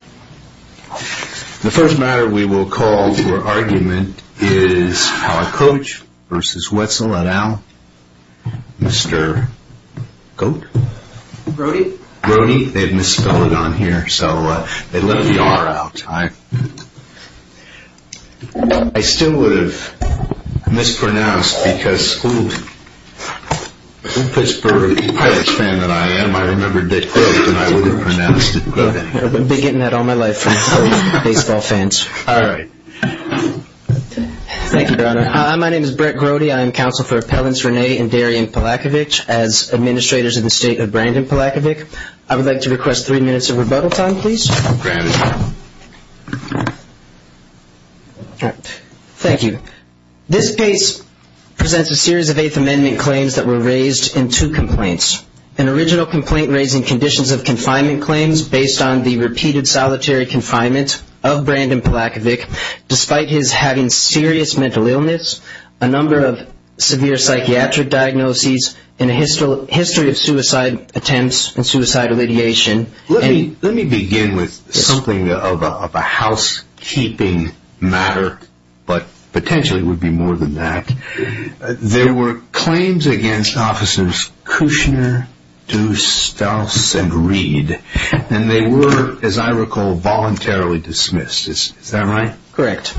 The first matter we will call for argument is Palakovic v. Wetzel et al. Mr. Goat? Brody? Brody. They've misspelled it on here, so they left the R out. I still would have mispronounced because, I'm a Pittsburgh Patriots fan that I am. I remembered that Goat and I would have pronounced it Goat. I've been getting that all my life from baseball fans. All right. Thank you, Your Honor. Hi, my name is Brett Grody. I am counsel for Appellants Rene and Darian Palakovic as administrators in the state of Brandon Palakovic. I would like to request three minutes of rebuttal time, please. Granted. Thank you. This case presents a series of Eighth Amendment claims that were raised in two complaints. An original complaint raising conditions of confinement claims based on the repeated solitary confinement of Brandon Palakovic, despite his having serious mental illness, a number of severe psychiatric diagnoses, and a history of suicide attempts and suicide alleviation. Let me begin with something of a housekeeping matter, but potentially it would be more than that. There were claims against Officers Kushner, Deuce, Stouse, and Reed, and they were, as I recall, voluntarily dismissed. Is that right? Correct.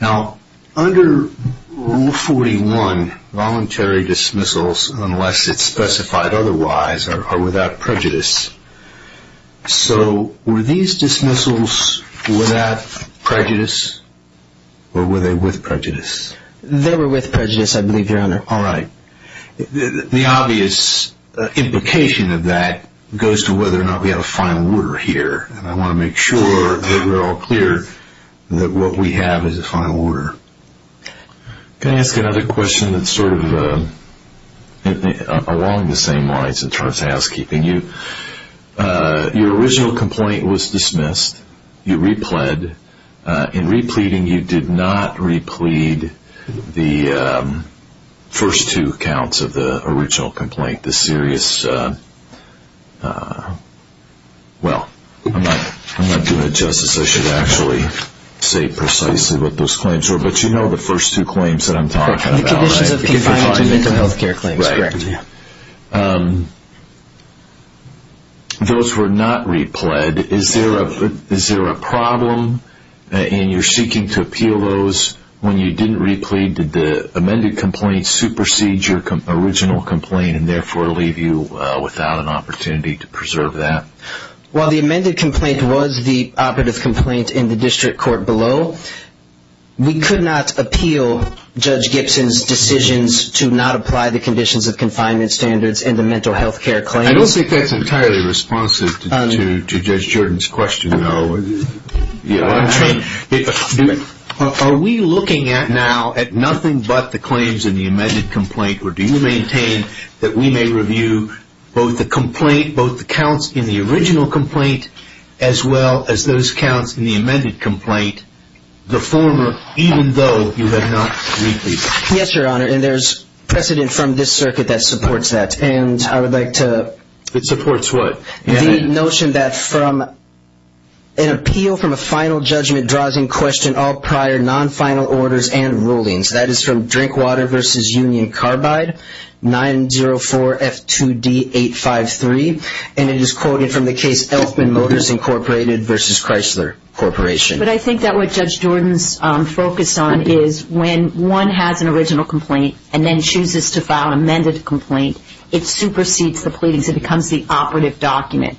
Now, under Rule 41, voluntary dismissals, unless it's specified otherwise, are without prejudice. So were these dismissals without prejudice, or were they with prejudice? They were with prejudice, I believe, Your Honor. All right. The obvious implication of that goes to whether or not we have a final order here, and I want to make sure that we're all clear that what we have is a final order. Can I ask another question that's sort of along the same lines in terms of housekeeping? Your original complaint was dismissed. You repled. In repleding, you did not replede the first two accounts of the original complaint, the serious, well, I'm not doing it justice. I should actually say precisely what those claims were, but you know the first two claims that I'm talking about, right? The conditions of compliance with mental health care claims, correct. Right. Those were not repled. Is there a problem in your seeking to appeal those? When you didn't replede, did the amended complaint supersede your original complaint and therefore leave you without an opportunity to preserve that? Well, the amended complaint was the operative complaint in the district court below. We could not appeal Judge Gibson's decisions to not apply the conditions of confinement standards in the mental health care claims. I don't think that's entirely responsive to Judge Jordan's question, though. Are we looking now at nothing but the claims in the amended complaint, or do you maintain that we may review both the complaint, both the counts in the original complaint, as well as those counts in the amended complaint, the former, even though you have not repleded? Yes, Your Honor, and there's precedent from this circuit that supports that, and I would like to… It supports what? The notion that from an appeal from a final judgment draws in question all prior non-final orders and rulings. That is from Drinkwater v. Union Carbide, 904F2D853, and it is quoted from the case Elfman Motors, Inc. v. Chrysler Corporation. But I think that what Judge Jordan's focus on is when one has an original complaint and then chooses to file an amended complaint, it supersedes the pleadings. It becomes the operative document,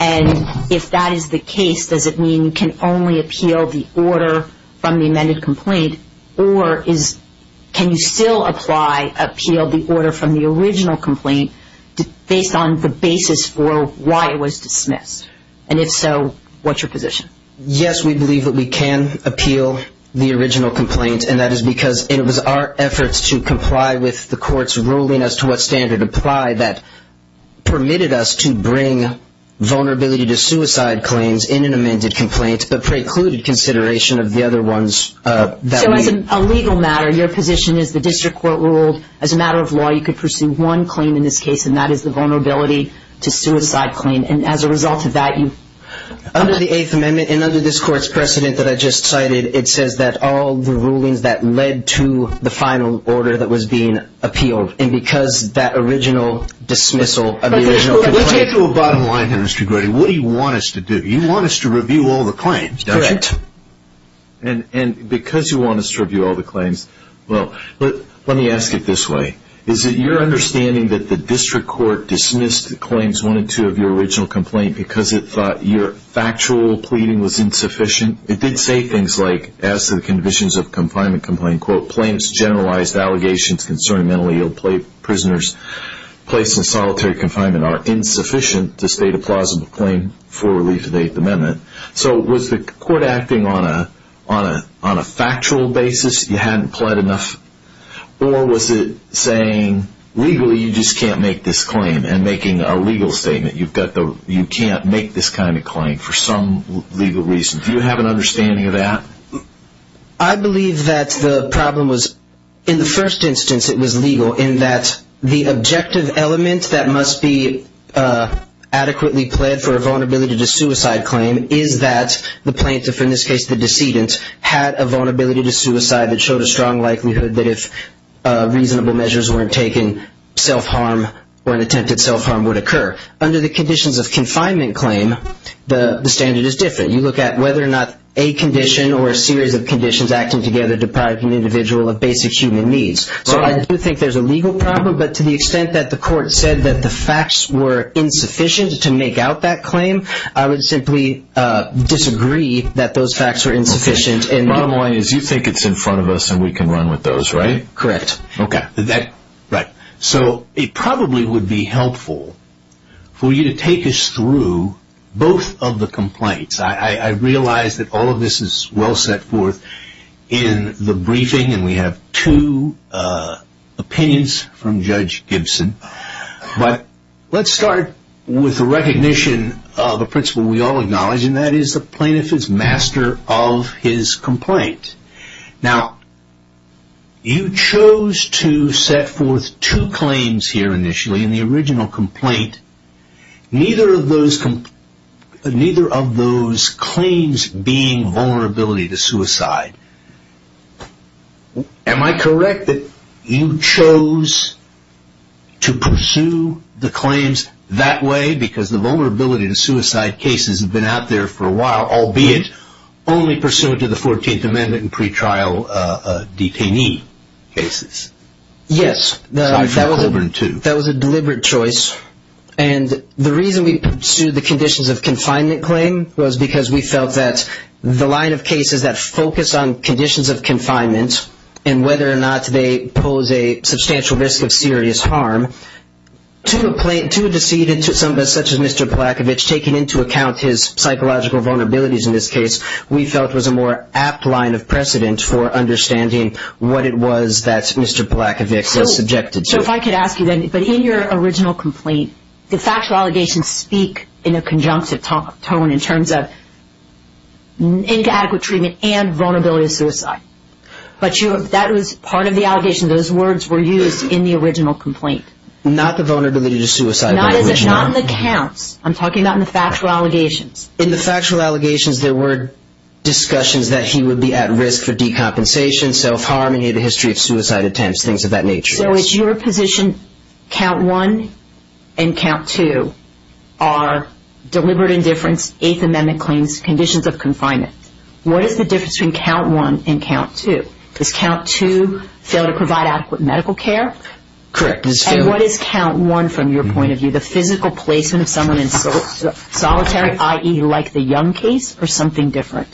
and if that is the case, does it mean you can only appeal the order from the amended complaint, or can you still appeal the order from the original complaint based on the basis for why it was dismissed? And if so, what's your position? Yes, we believe that we can appeal the original complaint, and that is because it was our efforts to comply with the court's ruling as to what standard applied that permitted us to bring vulnerability to suicide claims in an amended complaint but precluded consideration of the other ones that we… So as a legal matter, your position is the district court ruled, as a matter of law, you could pursue one claim in this case, and that is the vulnerability to suicide claim, and as a result of that, you… Under the Eighth Amendment and under this court's precedent that I just cited, it says that all the rulings that led to the final order that was being appealed, and because that original dismissal of the original complaint… Let's get to a bottom line here, Mr. Grady. What do you want us to do? You want us to review all the claims, don't you? Correct. And because you want us to review all the claims, well, let me ask it this way. Is it your understanding that the district court dismissed claims one and two of your original complaint because it thought your factual pleading was insufficient? It did say things like, as to the conditions of confinement complaint, quote, claims generalized allegations concerning mentally ill prisoners placed in solitary confinement are insufficient to state a plausible claim for relief of the Eighth Amendment. So was the court acting on a factual basis? You hadn't pled enough? Or was it saying, legally, you just can't make this claim, and making a legal statement, you can't make this kind of claim for some legal reason? Do you have an understanding of that? I believe that the problem was, in the first instance it was legal, in that the objective element that must be adequately pled for a vulnerability to suicide claim is that the plaintiff, in this case the decedent, had a vulnerability to suicide that showed a strong likelihood that if reasonable measures weren't taken, self-harm or an attempted self-harm would occur. Under the conditions of confinement claim, the standard is different. You look at whether or not a condition or a series of conditions acting together deprive an individual of basic human needs. So I do think there's a legal problem, but to the extent that the court said that the facts were insufficient to make out that claim, I would simply disagree that those facts were insufficient. Bottom line is, you think it's in front of us and we can run with those, right? Correct. Right. So it probably would be helpful for you to take us through both of the complaints. I realize that all of this is well set forth in the briefing, and we have two opinions from Judge Gibson. But let's start with the recognition of a principle we all acknowledge, and that is the plaintiff is master of his complaint. Now, you chose to set forth two claims here initially in the original complaint, neither of those claims being vulnerability to suicide. Am I correct that you chose to pursue the claims that way because the vulnerability to suicide cases have been out there for a while, albeit only pursuant to the 14th Amendment and pretrial detainee cases? Yes, that was a deliberate choice. And the reason we pursued the conditions of confinement claim was because we felt that the line of cases that focus on conditions of confinement and whether or not they pose a substantial risk of serious harm, to a decedent such as Mr. Polakovich, taking into account his psychological vulnerabilities in this case, we felt was a more apt line of precedent for understanding what it was that Mr. Polakovich was subjected to. So if I could ask you then, but in your original complaint, did factual allegations speak in a conjunctive tone in terms of inadequate treatment and vulnerability to suicide? That was part of the allegation. Those words were used in the original complaint. Not the vulnerability to suicide. Not in the counts. I'm talking about in the factual allegations. In the factual allegations, there were discussions that he would be at risk for decompensation, self-harm, and he had a history of suicide attempts, things of that nature. So it's your position count one and count two are deliberate indifference, Eighth Amendment claims, conditions of confinement. What is the difference between count one and count two? Does count two fail to provide adequate medical care? Correct. And what is count one from your point of view? The physical placement of someone in solitary, i.e., like the Young case, or something different?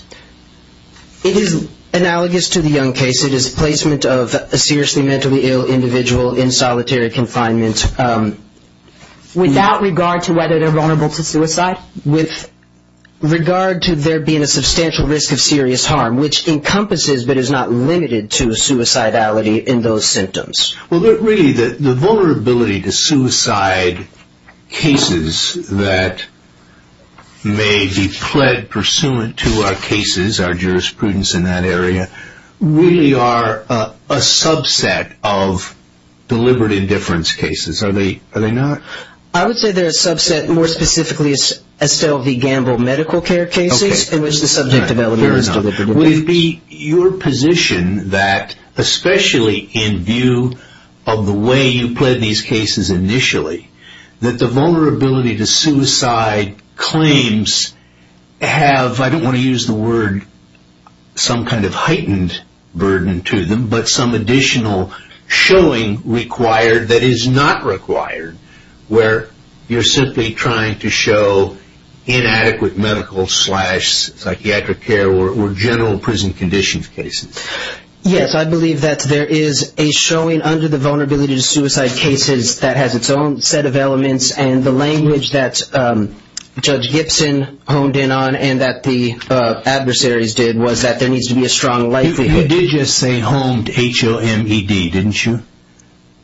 It is analogous to the Young case. It is placement of a seriously mentally ill individual in solitary confinement. Without regard to whether they're vulnerable to suicide? With regard to there being a substantial risk of serious harm, which encompasses but is not limited to suicidality in those symptoms. Really, the vulnerability to suicide cases that may be pled pursuant to our cases, our jurisprudence in that area, really are a subset of deliberate indifference cases, are they not? I would say they're a subset, more specifically Estelle v. Gamble medical care cases, in which the subject of element is deliberate indifference. Would it be your position that, especially in view of the way you pled these cases initially, that the vulnerability to suicide claims have, I don't want to use the word, some kind of heightened burden to them, but some additional showing required that is not required, where you're simply trying to show inadequate medical slash psychiatric care, or general prison conditions cases? Yes, I believe that there is a showing under the vulnerability to suicide cases that has its own set of elements, and the language that Judge Gibson honed in on, and that the adversaries did, was that there needs to be a strong likelihood. You did just say honed, H-O-N-E-D, didn't you?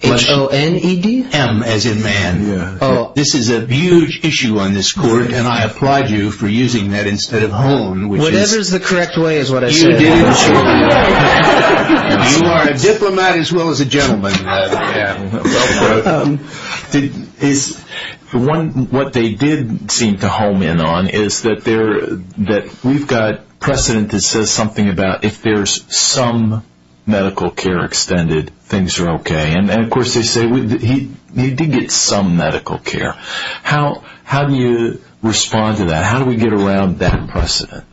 H-O-N-E-D? M, as in man. This is a huge issue on this court, and I applaud you for using that instead of hone. Whatever is the correct way is what I said. You are a diplomat as well as a gentleman. What they did seem to hone in on is that we've got precedent that says something about if there's some medical care extended, things are okay. And, of course, they say he did get some medical care. How do you respond to that? How do we get around that precedent?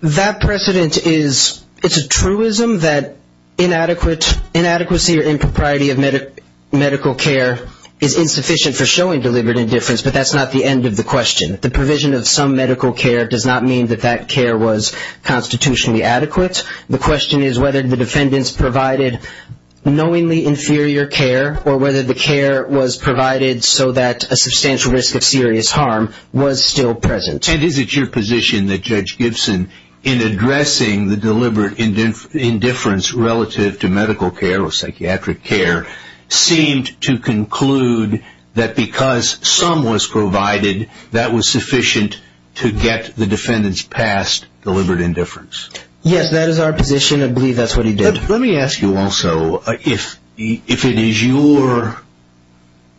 That precedent is a truism that inadequacy or impropriety of medical care is insufficient for showing deliberate indifference, but that's not the end of the question. The provision of some medical care does not mean that that care was constitutionally adequate. The question is whether the defendants provided knowingly inferior care, or whether the care was provided so that a substantial risk of serious harm was still present. Is it your position that Judge Gibson, in addressing the deliberate indifference relative to medical care or psychiatric care, seemed to conclude that because some was provided, that was sufficient to get the defendants past deliberate indifference? Yes, that is our position. I believe that's what he did. Let me ask you also, if it is your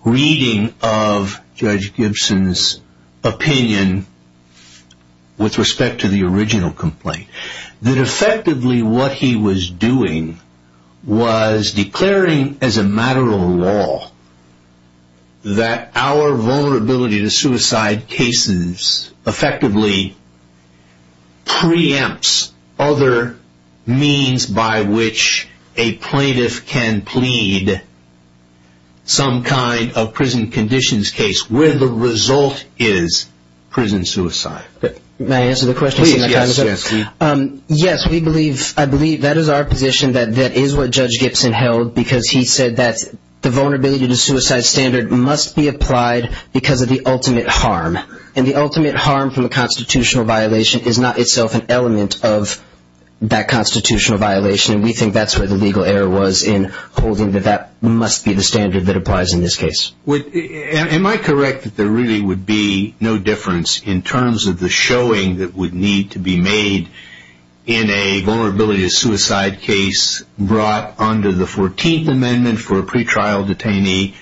reading of Judge Gibson's opinion with respect to the original complaint, that effectively what he was doing was declaring as a matter of law that our vulnerability to suicide cases effectively preempts other means by which a plaintiff can plead some kind of prison conditions case, where the result is prison suicide. May I answer the question? Please, yes. Yes, I believe that is our position, that that is what Judge Gibson held, because he said that the vulnerability to suicide standard must be applied because of the ultimate harm, and the ultimate harm from a constitutional violation is not itself an element of that constitutional violation, and we think that's where the legal error was in holding that that must be the standard that applies in this case. Am I correct that there really would be no difference in terms of the showing that would need to be made in a vulnerability to suicide case brought under the 14th Amendment for a pretrial detainee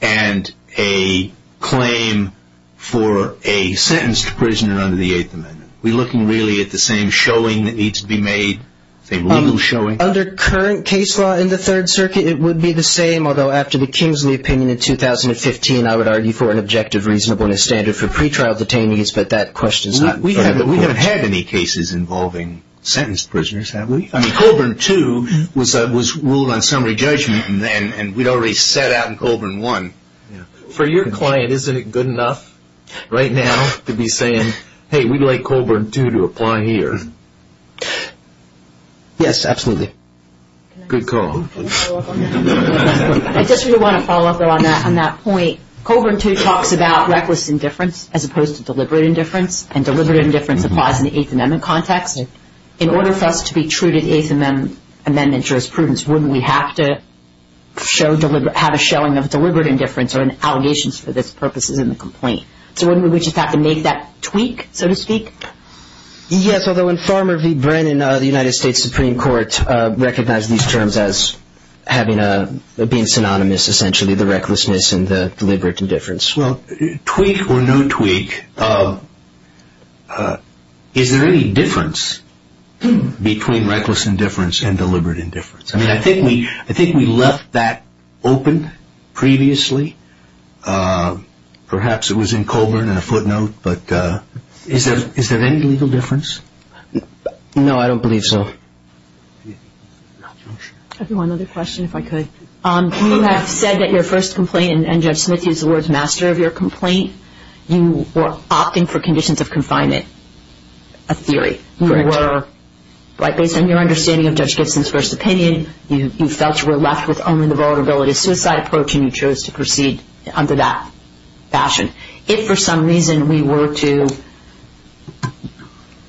and a claim for a sentenced prisoner under the 8th Amendment? Are we looking really at the same showing that needs to be made, the same legal showing? Under current case law in the Third Circuit, it would be the same, although after the Kingsley opinion in 2015, I would argue for an objective, reasonable, and a standard for pretrial detainees, but that question is not in front of the court. We haven't had any cases involving sentenced prisoners, have we? I mean, Colburn 2 was ruled on summary judgment, and we'd already set out in Colburn 1. For your client, isn't it good enough right now to be saying, hey, we'd like Colburn 2 to apply here? Yes, absolutely. Good call. I just really want to follow up on that point. Colburn 2 talks about reckless indifference as opposed to deliberate indifference, and deliberate indifference applies in the 8th Amendment context. In order for us to be true to the 8th Amendment jurisprudence, wouldn't we have to have a showing of deliberate indifference or allegations for this purposes in the complaint? So wouldn't we just have to make that tweak, so to speak? Yes, although in Farmer v. Brennan, the United States Supreme Court recognized these terms as being synonymous, essentially, the recklessness and the deliberate indifference. Well, tweak or no tweak, is there any difference between reckless indifference and deliberate indifference? I mean, I think we left that open previously. Perhaps it was in Colburn in a footnote, but is there any legal difference? No, I don't believe so. I have one other question, if I could. You have said that your first complaint, and Judge Smith is the Lord's master of your complaint, you were opting for conditions of confinement, a theory. Correct. You were, based on your understanding of Judge Gibson's first opinion, you felt you were left with only the vulnerability of suicide approach, and you chose to proceed under that fashion. If for some reason we were to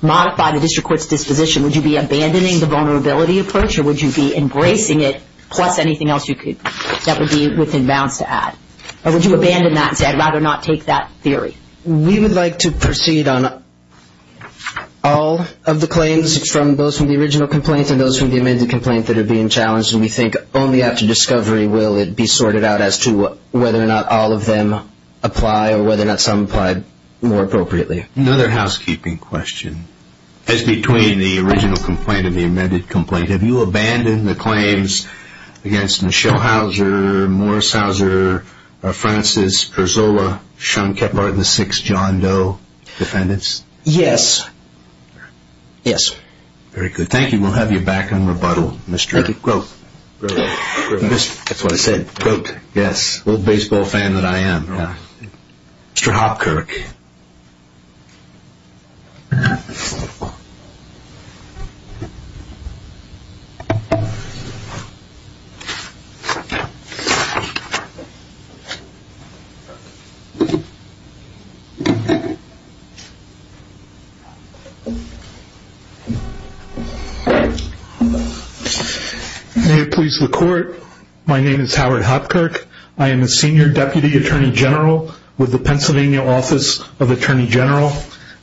modify the district court's disposition, would you be abandoning the vulnerability approach, or would you be embracing it plus anything else that would be within bounds to add? Or would you abandon that and say, I'd rather not take that theory? We would like to proceed on all of the claims from those from the original complaint and those from the amended complaint that are being challenged, and we think only after discovery will it be sorted out as to whether or not all of them apply or whether or not some apply more appropriately. Another housekeeping question. As between the original complaint and the amended complaint, have you abandoned the claims against Michelle Houser, Morris Houser, Francis, Perzola, Schoenkepper, the six John Doe defendants? Yes. Yes. Very good. Thank you. We'll have you back on rebuttal, Mr. Grote. That's what I said, Grote. Yes, a little baseball fan that I am. Mr. Hopkirk. May it please the Court. My name is Howard Hopkirk. I am a senior deputy attorney general with the Pennsylvania Office of Attorney General.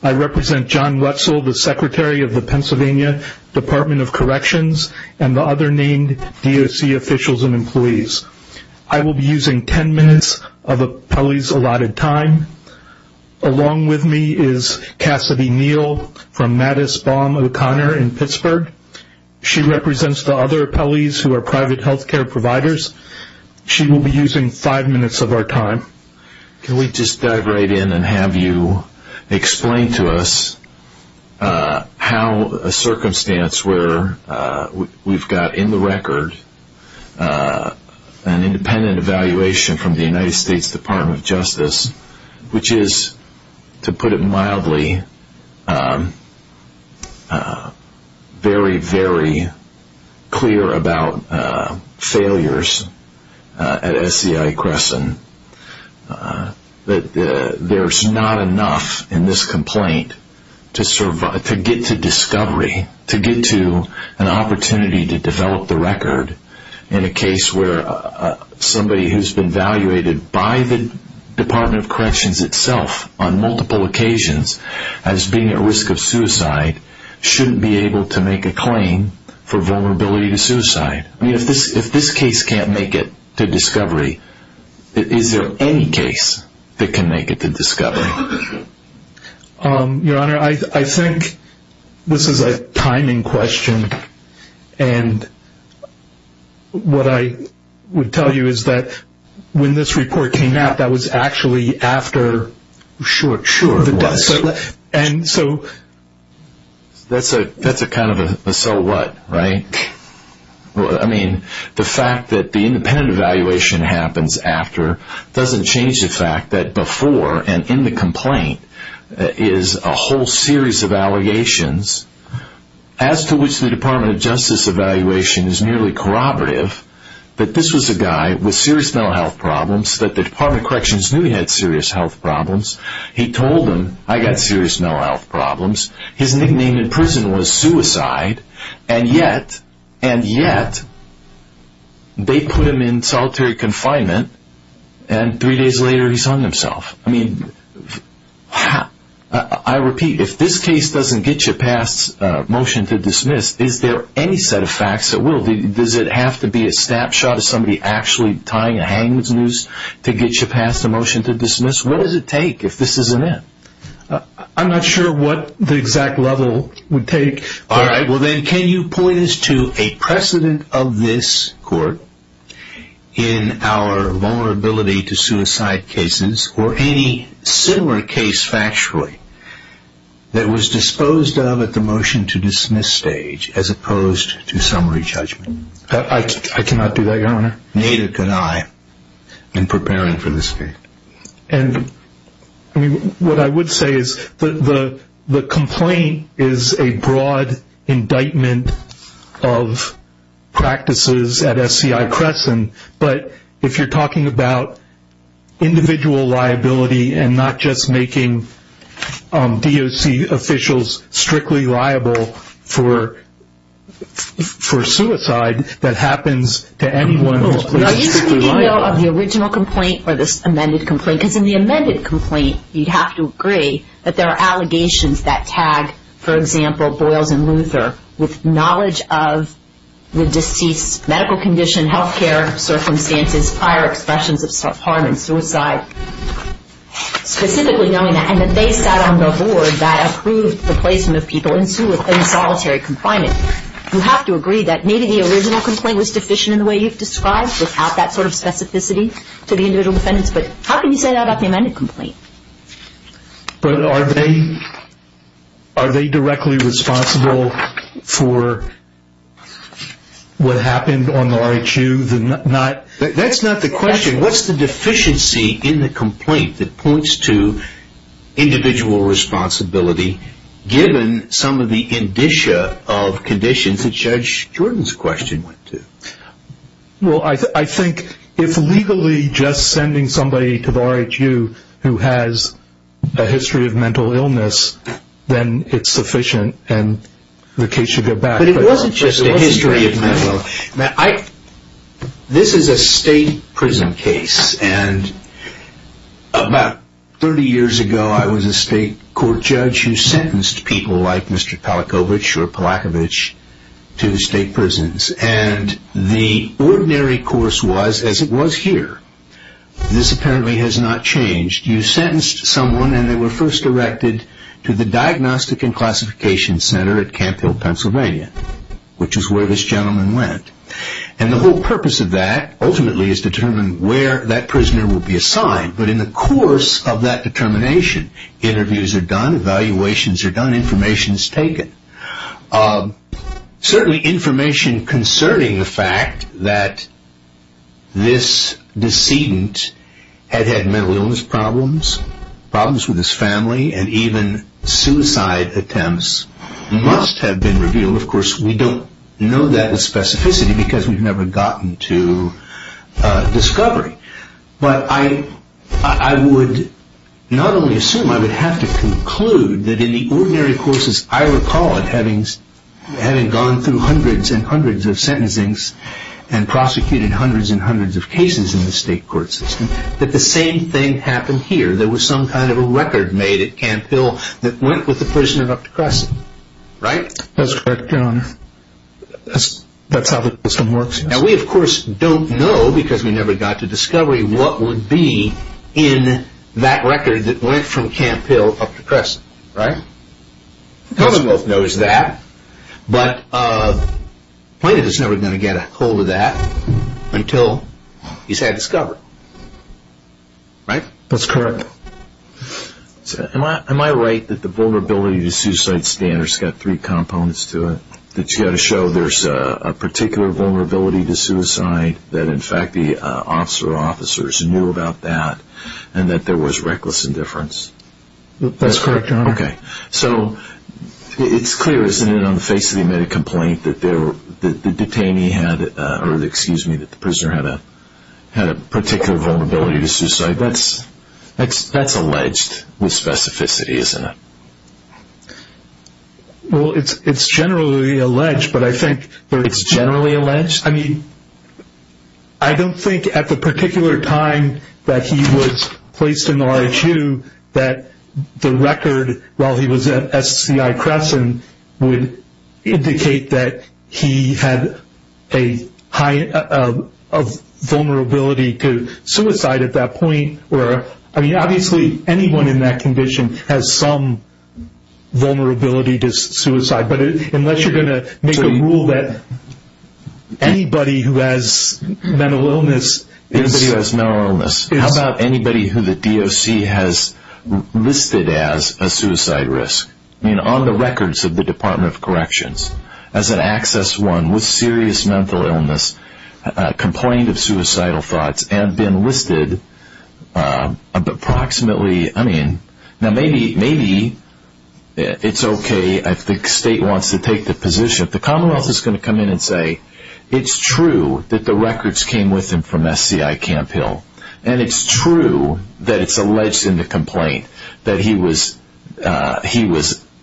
I represent John Wetzel, the secretary of the Pennsylvania Department of Corrections and the other named DOC officials and employees. I will be using ten minutes of the appellee's allotted time. Along with me is Cassidy Neal from Mattis Baum O'Connor in Pittsburgh. She represents the other appellees who are private health care providers. She will be using five minutes of our time. Can we just dive right in and have you explain to us how a circumstance where we've got in the record an independent evaluation from the United States Department of Justice, which is, to put it mildly, very, very clear about failures at SCI Crescent, that there's not enough in this complaint to get to discovery, to get to an opportunity to develop the record, in a case where somebody who's been evaluated by the Department of Corrections itself on multiple occasions as being at risk of suicide shouldn't be able to make a claim for vulnerability to suicide. I mean, if this case can't make it to discovery, is there any case that can make it to discovery? Your Honor, I think this is a timing question. And what I would tell you is that when this report came out, that was actually after the death. That's a kind of a so what, right? I mean, the fact that the independent evaluation happens after doesn't change the fact that before and in the complaint is a whole series of allegations, as to which the Department of Justice evaluation is nearly corroborative, that this was a guy with serious mental health problems, that the Department of Corrections knew he had serious health problems. He told them, I've got serious mental health problems. His nickname in prison was suicide. And yet, and yet, they put him in solitary confinement and three days later he's hung himself. I mean, I repeat, if this case doesn't get you past motion to dismiss, is there any set of facts that will? Does it have to be a snapshot of somebody actually tying a hangman's noose to get you past a motion to dismiss? What does it take if this isn't it? I'm not sure what the exact level would take. All right. Well, then can you point us to a precedent of this court in our vulnerability to suicide cases or any similar case factually that was disposed of at the motion to dismiss stage as opposed to summary judgment? I cannot do that, Your Honor. Neither can I in preparing for this case. What I would say is the complaint is a broad indictment of practices at SCI Crescent. But if you're talking about individual liability and not just making DOC officials strictly liable for suicide, that happens to anyone who is strictly liable. Are you speaking, though, of the original complaint or this amended complaint? Because in the amended complaint you'd have to agree that there are allegations that tag, for example, Boyles and Luther with knowledge of the deceased's medical condition, health care circumstances, prior expressions of harm and suicide, specifically knowing that. And that they sat on the board that approved the placement of people in solitary confinement. You have to agree that maybe the original complaint was deficient in the way you've described without that sort of specificity to the individual defendants. But how can you say that about the amended complaint? But are they directly responsible for what happened on the RICU? That's not the question. What's the deficiency in the complaint that points to individual responsibility given some of the indicia of conditions that Judge Jordan's question went to? Well, I think if legally just sending somebody to the RICU who has a history of mental illness, then it's sufficient and the case should go back. But it wasn't just a history of mental illness. This is a state prison case. And about 30 years ago I was a state court judge who sentenced people like Mr. Palachowicz or Palachowicz to state prisons. And the ordinary course was as it was here. This apparently has not changed. You sentenced someone and they were first erected to the Diagnostic and Classification Center at Camp Hill, Pennsylvania, which is where this gentleman went. And the whole purpose of that ultimately is to determine where that prisoner will be assigned. But in the course of that determination, interviews are done, evaluations are done, information is taken. Certainly information concerning the fact that this decedent had had mental illness problems, problems with his family, and even suicide attempts must have been revealed. Of course, we don't know that with specificity because we've never gotten to discovery. But I would not only assume, I would have to conclude that in the ordinary courses, I recall it having gone through hundreds and hundreds of sentencings and prosecuted hundreds and hundreds of cases in the state court system, that the same thing happened here. There was some kind of a record made at Camp Hill that went with the prisoner up to Crescent. Right? That's correct, Your Honor. That's how the system works. Now we, of course, don't know because we never got to discovery what would be in that record that went from Camp Hill up to Crescent. Right? Commonwealth knows that. But Plaintiff is never going to get a hold of that until he's had it discovered. Right? That's correct. Am I right that the vulnerability to suicide standards has got three components to it? That you've got to show there's a particular vulnerability to suicide that, in fact, the officer or officers knew about that and that there was reckless indifference? That's correct, Your Honor. Okay. So it's clear, isn't it, on the face of the admitted complaint that the detainee had, or excuse me, that the prisoner had a particular vulnerability to suicide? That's alleged with specificity, isn't it? Well, it's generally alleged, but I think that it's generally alleged. I mean, I don't think at the particular time that he was placed in the RHU that the record, while he was at SCI Crescent, would indicate that he had a high vulnerability to suicide at that point. I mean, obviously anyone in that condition has some vulnerability to suicide, but unless you're going to make a rule that anybody who has mental illness is... Anybody who has mental illness. How about anybody who the DOC has listed as a suicide risk? I mean, on the records of the Department of Corrections, as an access one with serious mental illness, complained of suicidal thoughts and been listed approximately... I mean, now maybe it's okay if the state wants to take the position. If the Commonwealth is going to come in and say, it's true that the records came with him from SCI Camp Hill and it's true that it's alleged in the complaint that he was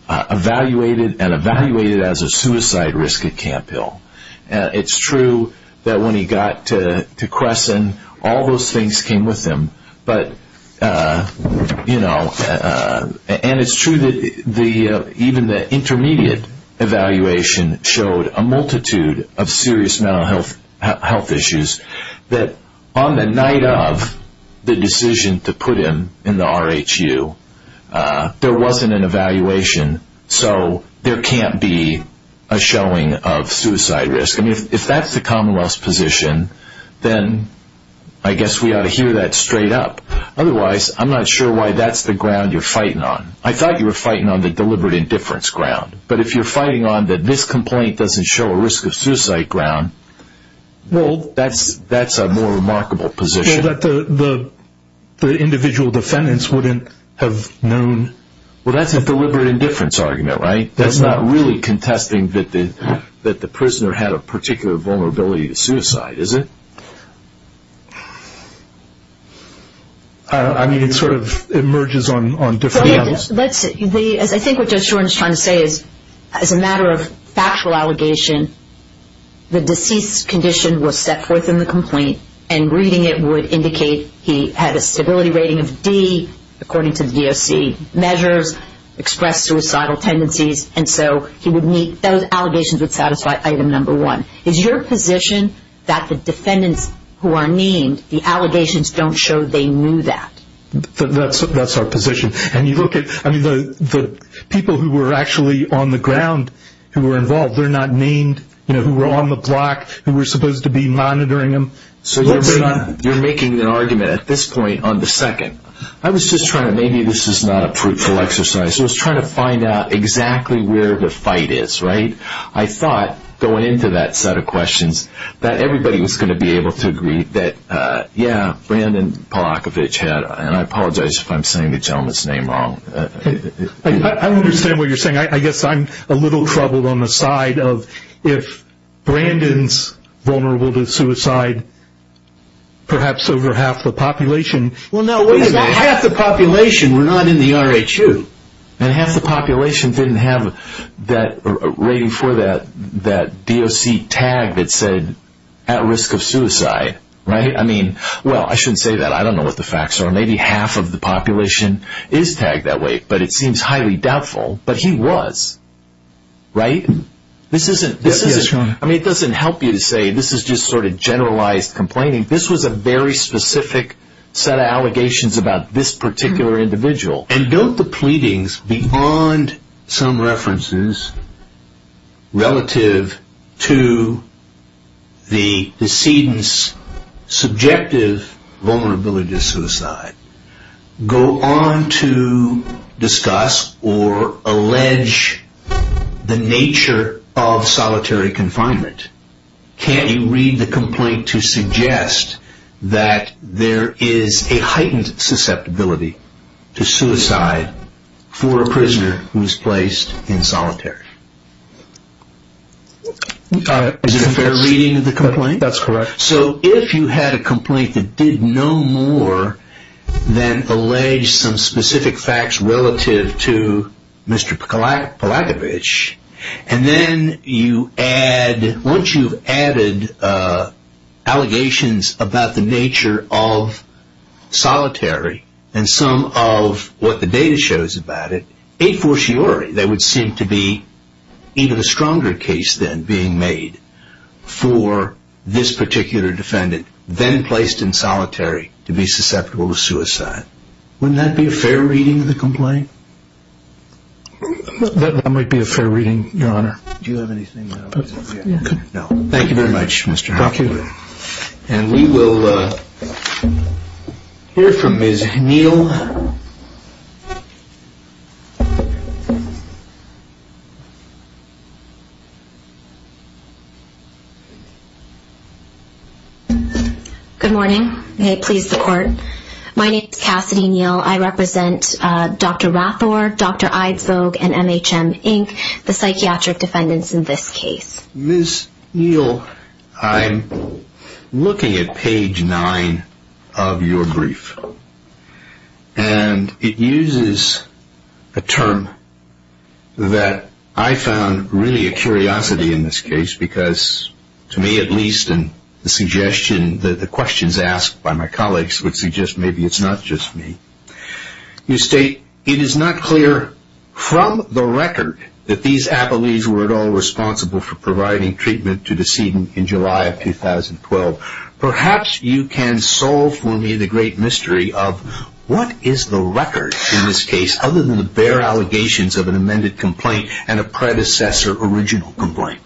evaluated and evaluated as a suicide risk at Camp Hill. It's true that when he got to Crescent, all those things came with him. But, you know, and it's true that even the intermediate evaluation showed a multitude of serious mental health issues that on the night of the decision to put him in the RHU, there wasn't an evaluation, so there can't be a showing of suicide risk. I mean, if that's the Commonwealth's position, then I guess we ought to hear that straight up. Otherwise, I'm not sure why that's the ground you're fighting on. I thought you were fighting on the deliberate indifference ground, but if you're fighting on that this complaint doesn't show a risk of suicide ground, well, that's a more remarkable position. Well, that the individual defendants wouldn't have known. Well, that's a deliberate indifference argument, right? That's not really contesting that the prisoner had a particular vulnerability to suicide, is it? I mean, it sort of emerges on different levels. I think what Judge Shoren is trying to say is, as a matter of factual allegation, the deceased's condition was set forth in the complaint, and reading it would indicate he had a stability rating of D, according to the DOC measures, expressed suicidal tendencies, and so those allegations would satisfy item number one. Is your position that the defendants who are named, the allegations don't show they knew that? That's our position. I mean, the people who were actually on the ground who were involved, they're not named, who were on the block, who were supposed to be monitoring them. So you're making an argument at this point on the second. I was just trying to, maybe this is not a fruitful exercise, I was trying to find out exactly where the fight is, right? I thought, going into that set of questions, that everybody was going to be able to agree that, yeah, Brandon Polakovich had, and I apologize if I'm saying the gentleman's name wrong. I understand what you're saying. I guess I'm a little troubled on the side of, if Brandon's vulnerable to suicide, perhaps over half the population. Well, no, wait a minute. It's not half the population. We're not in the R.H.U. And half the population didn't have that rating for that DOC tag that said, at risk of suicide, right? I mean, well, I shouldn't say that. I don't know what the facts are. Maybe half of the population is tagged that way, but it seems highly doubtful. But he was, right? This isn't, I mean, it doesn't help you to say this is just sort of generalized complaining. This was a very specific set of allegations about this particular individual. And don't the pleadings, beyond some references relative to the decedent's subjective vulnerability to suicide, go on to discuss or allege the nature of solitary confinement? Can't you read the complaint to suggest that there is a heightened susceptibility to suicide for a prisoner who is placed in solitary? Is it fair reading of the complaint? That's correct. So if you had a complaint that did no more than allege some specific facts relative to Mr. Polakovich, and then you add, once you've added allegations about the nature of solitary and some of what the data shows about it, a fortiori there would seem to be even a stronger case then being made for this particular defendant, then placed in solitary, to be susceptible to suicide. Wouldn't that be a fair reading of the complaint? That might be a fair reading, Your Honor. Do you have anything else? No. Thank you very much, Mr. Hockley. Thank you. And we will hear from Ms. Neal. Good morning. May it please the Court. My name is Cassidy Neal. I represent Dr. Rathore, Dr. Eidsvog, and MHM, Inc., the psychiatric defendants in this case. Ms. Neal, I'm looking at page 9 of your brief, and it uses a term that I found really a curiosity in this case, because to me at least, and the suggestion, the questions asked by my colleagues would suggest maybe it's not just me. You state, It is not clear from the record that these appellees were at all responsible for providing treatment to the decedent in July of 2012. Perhaps you can solve for me the great mystery of what is the record in this case other than the bare allegations of an amended complaint and a predecessor original complaint.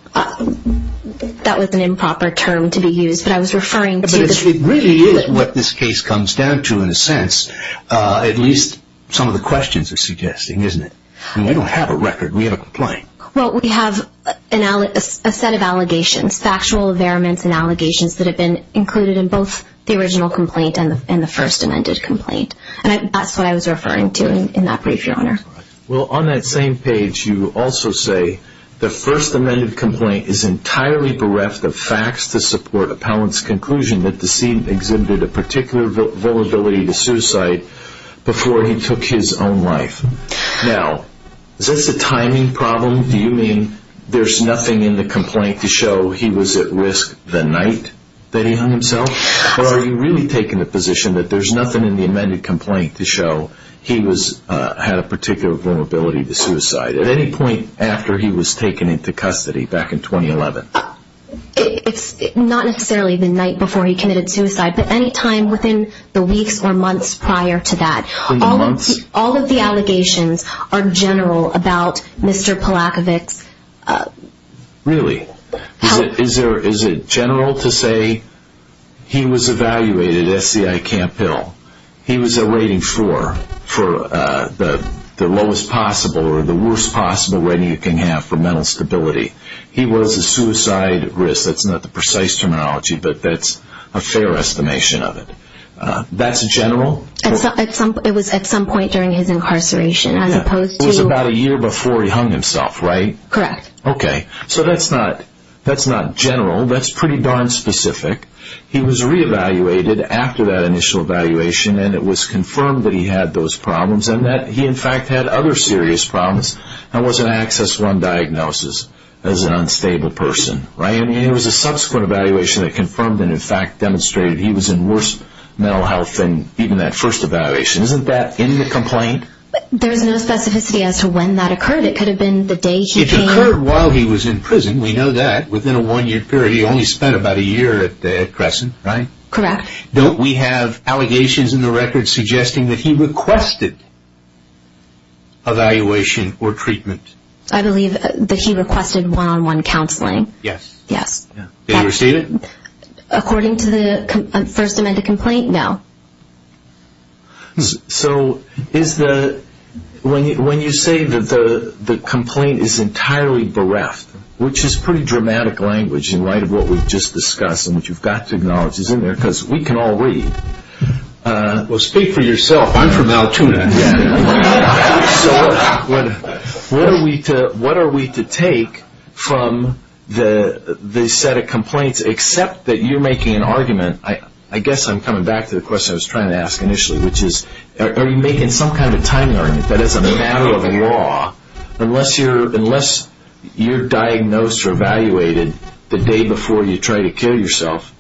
That was an improper term to be used, but I was referring to the It really is what this case comes down to in a sense, at least some of the questions are suggesting, isn't it? We don't have a record. We have a complaint. Well, we have a set of allegations, factual variants and allegations, that have been included in both the original complaint and the first amended complaint. And that's what I was referring to in that brief, Your Honor. Well, on that same page, you also say, The first amended complaint is entirely bereft of facts to support appellant's conclusion that the decedent exhibited a particular vulnerability to suicide before he took his own life. Now, is this a timing problem? Do you mean there's nothing in the complaint to show he was at risk the night that he hung himself? Or are you really taking the position that there's nothing in the amended complaint to show he had a particular vulnerability to suicide at any point after he was taken into custody back in 2011? It's not necessarily the night before he committed suicide, but any time within the weeks or months prior to that. All of the allegations are general about Mr. Polakowicz. Really? Is it general to say he was evaluated at SCI Camp Hill? He was a rating for the lowest possible or the worst possible rating you can have for mental stability. He was a suicide risk. That's not the precise terminology, but that's a fair estimation of it. That's general? It was at some point during his incarceration. It was about a year before he hung himself, right? Correct. Okay, so that's not general. That's pretty darn specific. He was re-evaluated after that initial evaluation, and it was confirmed that he had those problems and that he, in fact, had other serious problems. That was an Access One diagnosis as an unstable person. It was a subsequent evaluation that confirmed and, in fact, demonstrated he was in worse mental health than even that first evaluation. Isn't that in the complaint? There's no specificity as to when that occurred. It could have been the day he came. It occurred while he was in prison. We know that. Within a one-year period, he only spent about a year at Crescent, right? Correct. Don't we have allegations in the record suggesting that he requested evaluation or treatment? I believe that he requested one-on-one counseling. Yes. Yes. Did he receive it? According to the First Amendment complaint, no. So when you say that the complaint is entirely bereft, which is pretty dramatic language in light of what we've just discussed and what you've got to acknowledge is in there because we can all read. Well, speak for yourself. I'm from Altoona. So what are we to take from the set of complaints except that you're making an argument? I guess I'm coming back to the question I was trying to ask initially, which is are you making some kind of time learning? That is a matter of law. Unless you're diagnosed or evaluated the day before you try to kill yourself,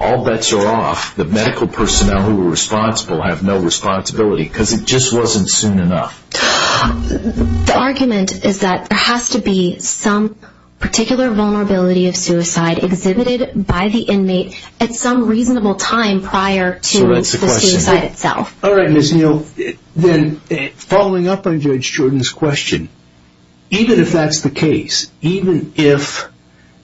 all bets are off. The medical personnel who are responsible have no responsibility because it just wasn't soon enough. The argument is that there has to be some particular vulnerability of suicide exhibited by the inmate at some reasonable time prior to the suicide itself. All right, Ms. Neal. Then following up on Judge Jordan's question, even if that's the case, even if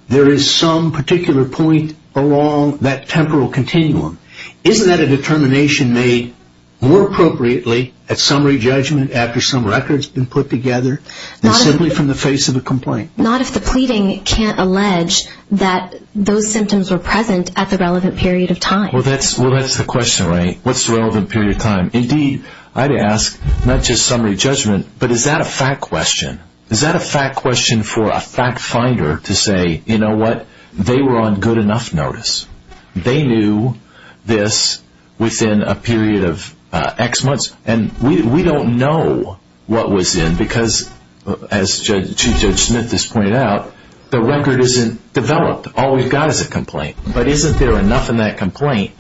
there is some particular point along that temporal continuum, isn't that a determination made more appropriately at summary judgment after some records have been put together than simply from the face of a complaint? Not if the pleading can't allege that those symptoms were present at the relevant period of time. Well, that's the question, right? What's the relevant period of time? Indeed, I'd ask not just summary judgment, but is that a fact question? Is that a fact question for a fact finder to say, you know what, they were on good enough notice? They knew this within a period of X months. And we don't know what was in because, as Chief Judge Smith has pointed out, the record isn't developed. All we've got is a complaint. But isn't there enough in that complaint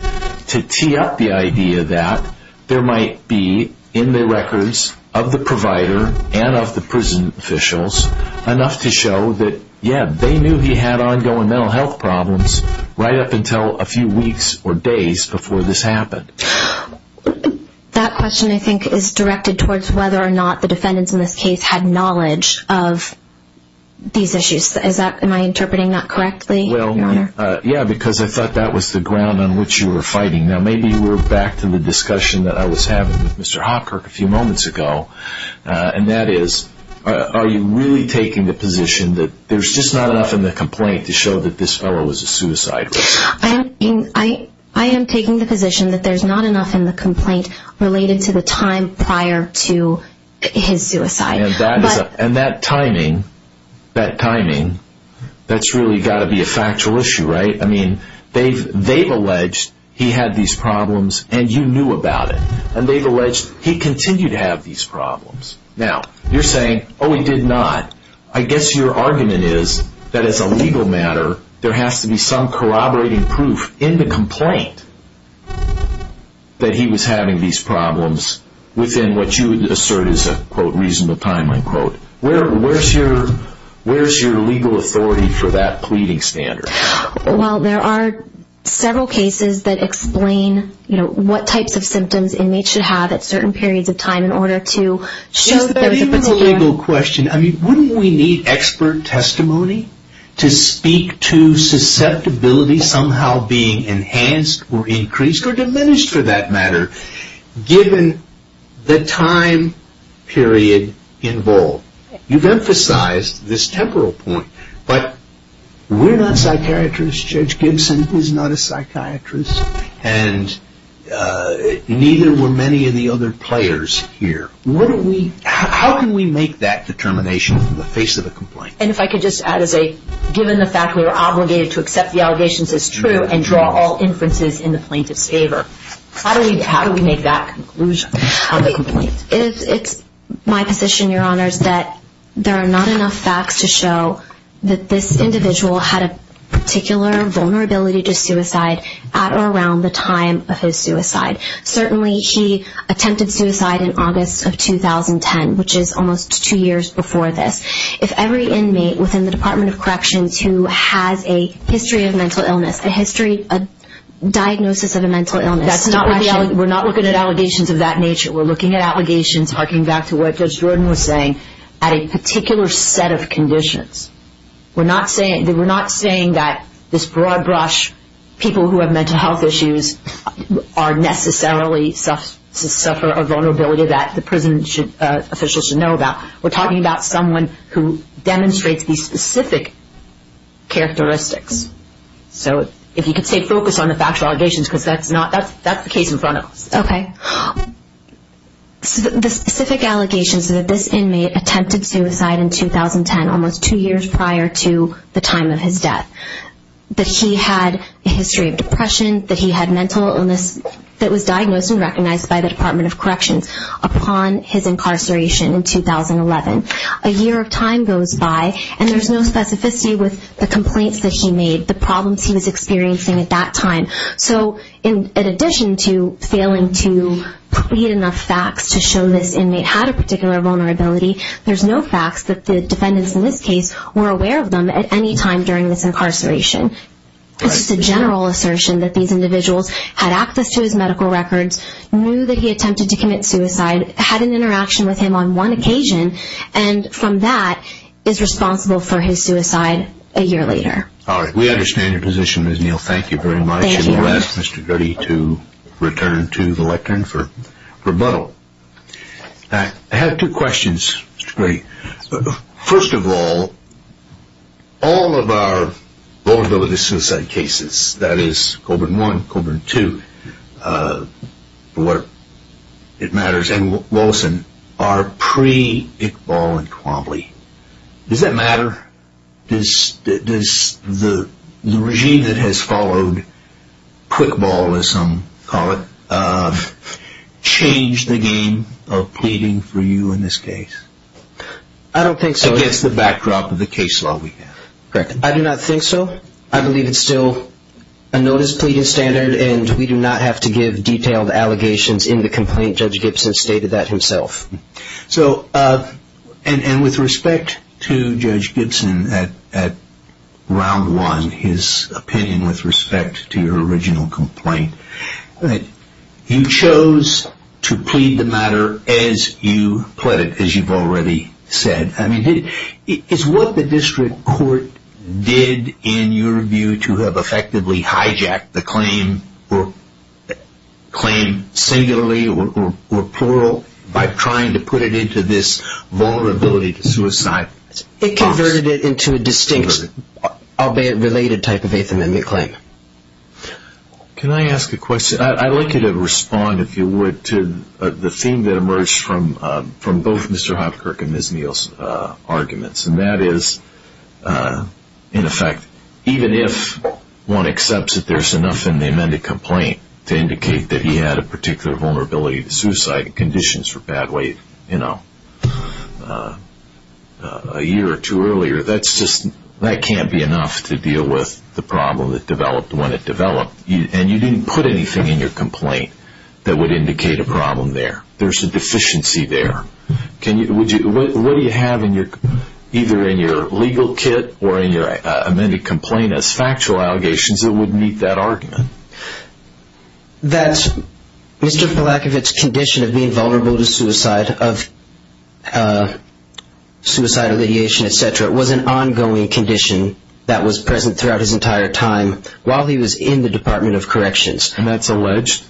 to tee up the idea that there might be in the records of the provider and of the prison officials enough to show that, yeah, they knew he had ongoing mental health problems right up until a few weeks or days before this happened? That question, I think, is directed towards whether or not the defendants in this case had knowledge of these issues. Am I interpreting that correctly, Your Honor? Yeah, because I thought that was the ground on which you were fighting. Now, maybe we're back to the discussion that I was having with Mr. Hopkirk a few moments ago, and that is, are you really taking the position that there's just not enough in the complaint to show that this fellow was a suicide risk? I am taking the position that there's not enough in the complaint related to the time prior to his suicide. And that timing, that timing, that's really got to be a factual issue, right? I mean, they've alleged he had these problems and you knew about it. And they've alleged he continued to have these problems. Now, you're saying, oh, he did not. I guess your argument is that as a legal matter, there has to be some corroborating proof in the complaint that he was having these problems within what you assert is a, quote, reasonable time, unquote. Where's your legal authority for that pleading standard? Well, there are several cases that explain, you know, what types of symptoms inmates should have at certain periods of time in order to show that there was a particular... Is that even a legal question? I mean, wouldn't we need expert testimony to speak to susceptibility somehow being enhanced or increased or diminished for that matter, given the time period involved? You've emphasized this temporal point. But we're not psychiatrists. Judge Gibson is not a psychiatrist. And neither were many of the other players here. How can we make that determination in the face of a complaint? And if I could just add as a given the fact we were obligated to accept the allegations as true and draw all inferences in the plaintiff's favor, how do we make that conclusion of the complaint? It's my position, Your Honors, that there are not enough facts to show that this individual had a particular vulnerability to suicide at or around the time of his suicide. Certainly, he attempted suicide in August of 2010, which is almost two years before this. If every inmate within the Department of Corrections who has a history of mental illness, a history, a diagnosis of a mental illness... We're not looking at allegations of that nature. We're looking at allegations, harking back to what Judge Jordan was saying, at a particular set of conditions. We're not saying that this broad brush people who have mental health issues are necessarily to suffer a vulnerability that the prison officials should know about. We're talking about someone who demonstrates these specific characteristics. So if you could stay focused on the factual allegations, because that's the case in front of us. Okay. The specific allegations are that this inmate attempted suicide in 2010, almost two years prior to the time of his death. That he had a history of depression, that he had mental illness that was diagnosed and recognized by the Department of Corrections upon his incarceration in 2011. A year of time goes by, and there's no specificity with the complaints that he made, the problems he was experiencing at that time. So in addition to failing to create enough facts to show this inmate had a particular vulnerability, there's no facts that the defendants in this case were aware of them at any time during this incarceration. It's just a general assertion that these individuals had access to his medical records, knew that he attempted to commit suicide, had an interaction with him on one occasion, and from that is responsible for his suicide a year later. All right. We understand your position, Ms. Neal. Thank you very much. Thank you. And we'll ask Mr. Gurdy to return to the lectern for rebuttal. I have two questions, Mr. Gurdy. First of all, all of our vulnerability suicide cases, that is, Colburn I, Colburn II, for what it matters, and Wilson, are pre-Iqbal and Quambley. Does that matter? Does the regime that has followed quick ball, as some call it, change the game of pleading for you in this case? I don't think so. Against the backdrop of the case law we have. Correct. I do not think so. I believe it's still a notice pleading standard, and we do not have to give detailed allegations in the complaint. Judge Gibson stated that himself. And with respect to Judge Gibson at round one, his opinion with respect to your original complaint, you chose to plead the matter as you pled it, as you've already said. I mean, is what the district court did in your view to have effectively hijacked the claim singularly or plural by trying to put it into this vulnerability to suicide box? It converted it into a distinct, albeit related, type of Eighth Amendment claim. Can I ask a question? I'd like you to respond, if you would, to the theme that emerged from both Mr. Hopkirk and Ms. Neal's arguments. And that is, in effect, even if one accepts that there's enough in the amended complaint to indicate that he had a particular vulnerability to suicide and conditions for bad weight a year or two earlier, that can't be enough to deal with the problem that developed when it developed. And you didn't put anything in your complaint that would indicate a problem there. There's a deficiency there. What do you have either in your legal kit or in your amended complaint as factual allegations that would meet that argument? That Mr. Polakowicz's condition of being vulnerable to suicide, of suicidal ideation, etc., was an ongoing condition that was present throughout his entire time while he was in the Department of Corrections. And that's alleged?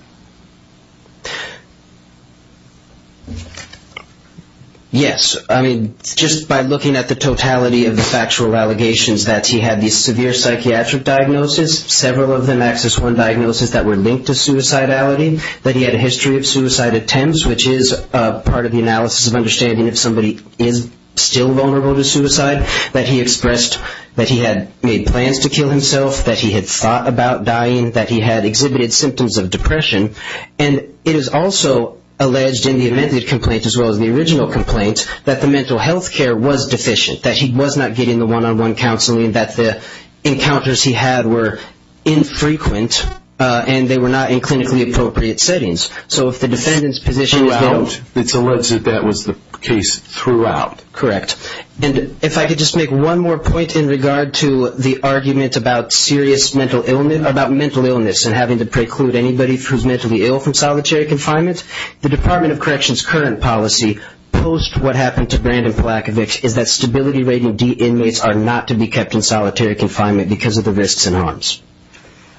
Yes. I mean, just by looking at the totality of the factual allegations, that he had the severe psychiatric diagnosis, several of them, access one diagnosis that were linked to suicidality, that he had a history of suicide attempts, which is part of the analysis of understanding if somebody is still vulnerable to suicide, that he expressed that he had made plans to kill himself, that he had thought about dying, that he had exhibited symptoms of depression. And it is also alleged in the amended complaint as well as the original complaint that the mental health care was deficient, that he was not getting the one-on-one counseling, that the encounters he had were infrequent, and they were not in clinically appropriate settings. So if the defendant's position is that... Throughout. It's alleged that that was the case throughout. Correct. And if I could just make one more point in regard to the argument about serious mental illness, about mental illness and having to preclude anybody who's mentally ill from solitary confinement, the Department of Corrections' current policy post what happened to Brandon Polakovich is that stability rating D inmates are not to be kept in solitary confinement because of the risks and harms.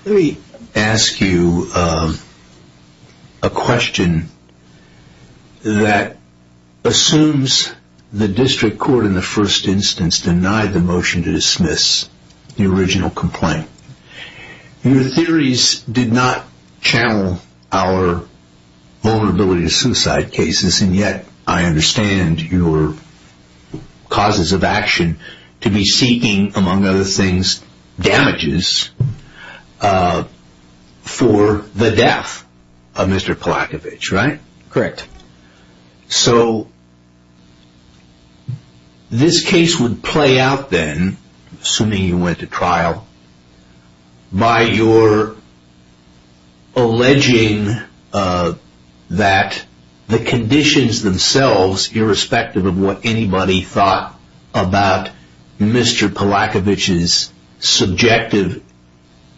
Let me ask you a question that assumes the district court in the first instance denied the motion to dismiss the original complaint. Your theories did not channel our vulnerability to suicide cases, and yet I understand your causes of action to be seeking, among other things, damages for the death of Mr. Polakovich, right? Correct. So this case would play out then, assuming you went to trial, by your alleging that the conditions themselves, irrespective of what anybody thought about Mr. Polakovich's subjective,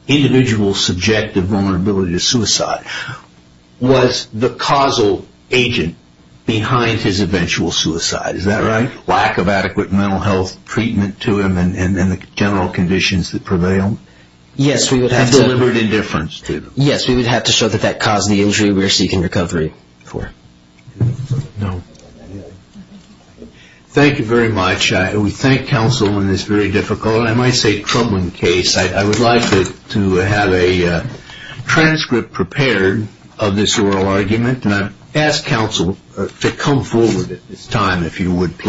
individual subjective vulnerability to suicide, was the causal agent behind his eventual suicide, is that right? Lack of adequate mental health treatment to him and the general conditions that prevailed? Yes, we would have to show that that caused the injury we're seeking recovery for. Thank you very much. We thank counsel in this very difficult and I might say troubling case. I would like to have a transcript prepared of this oral argument, and I ask counsel to come forward at this time if you would please.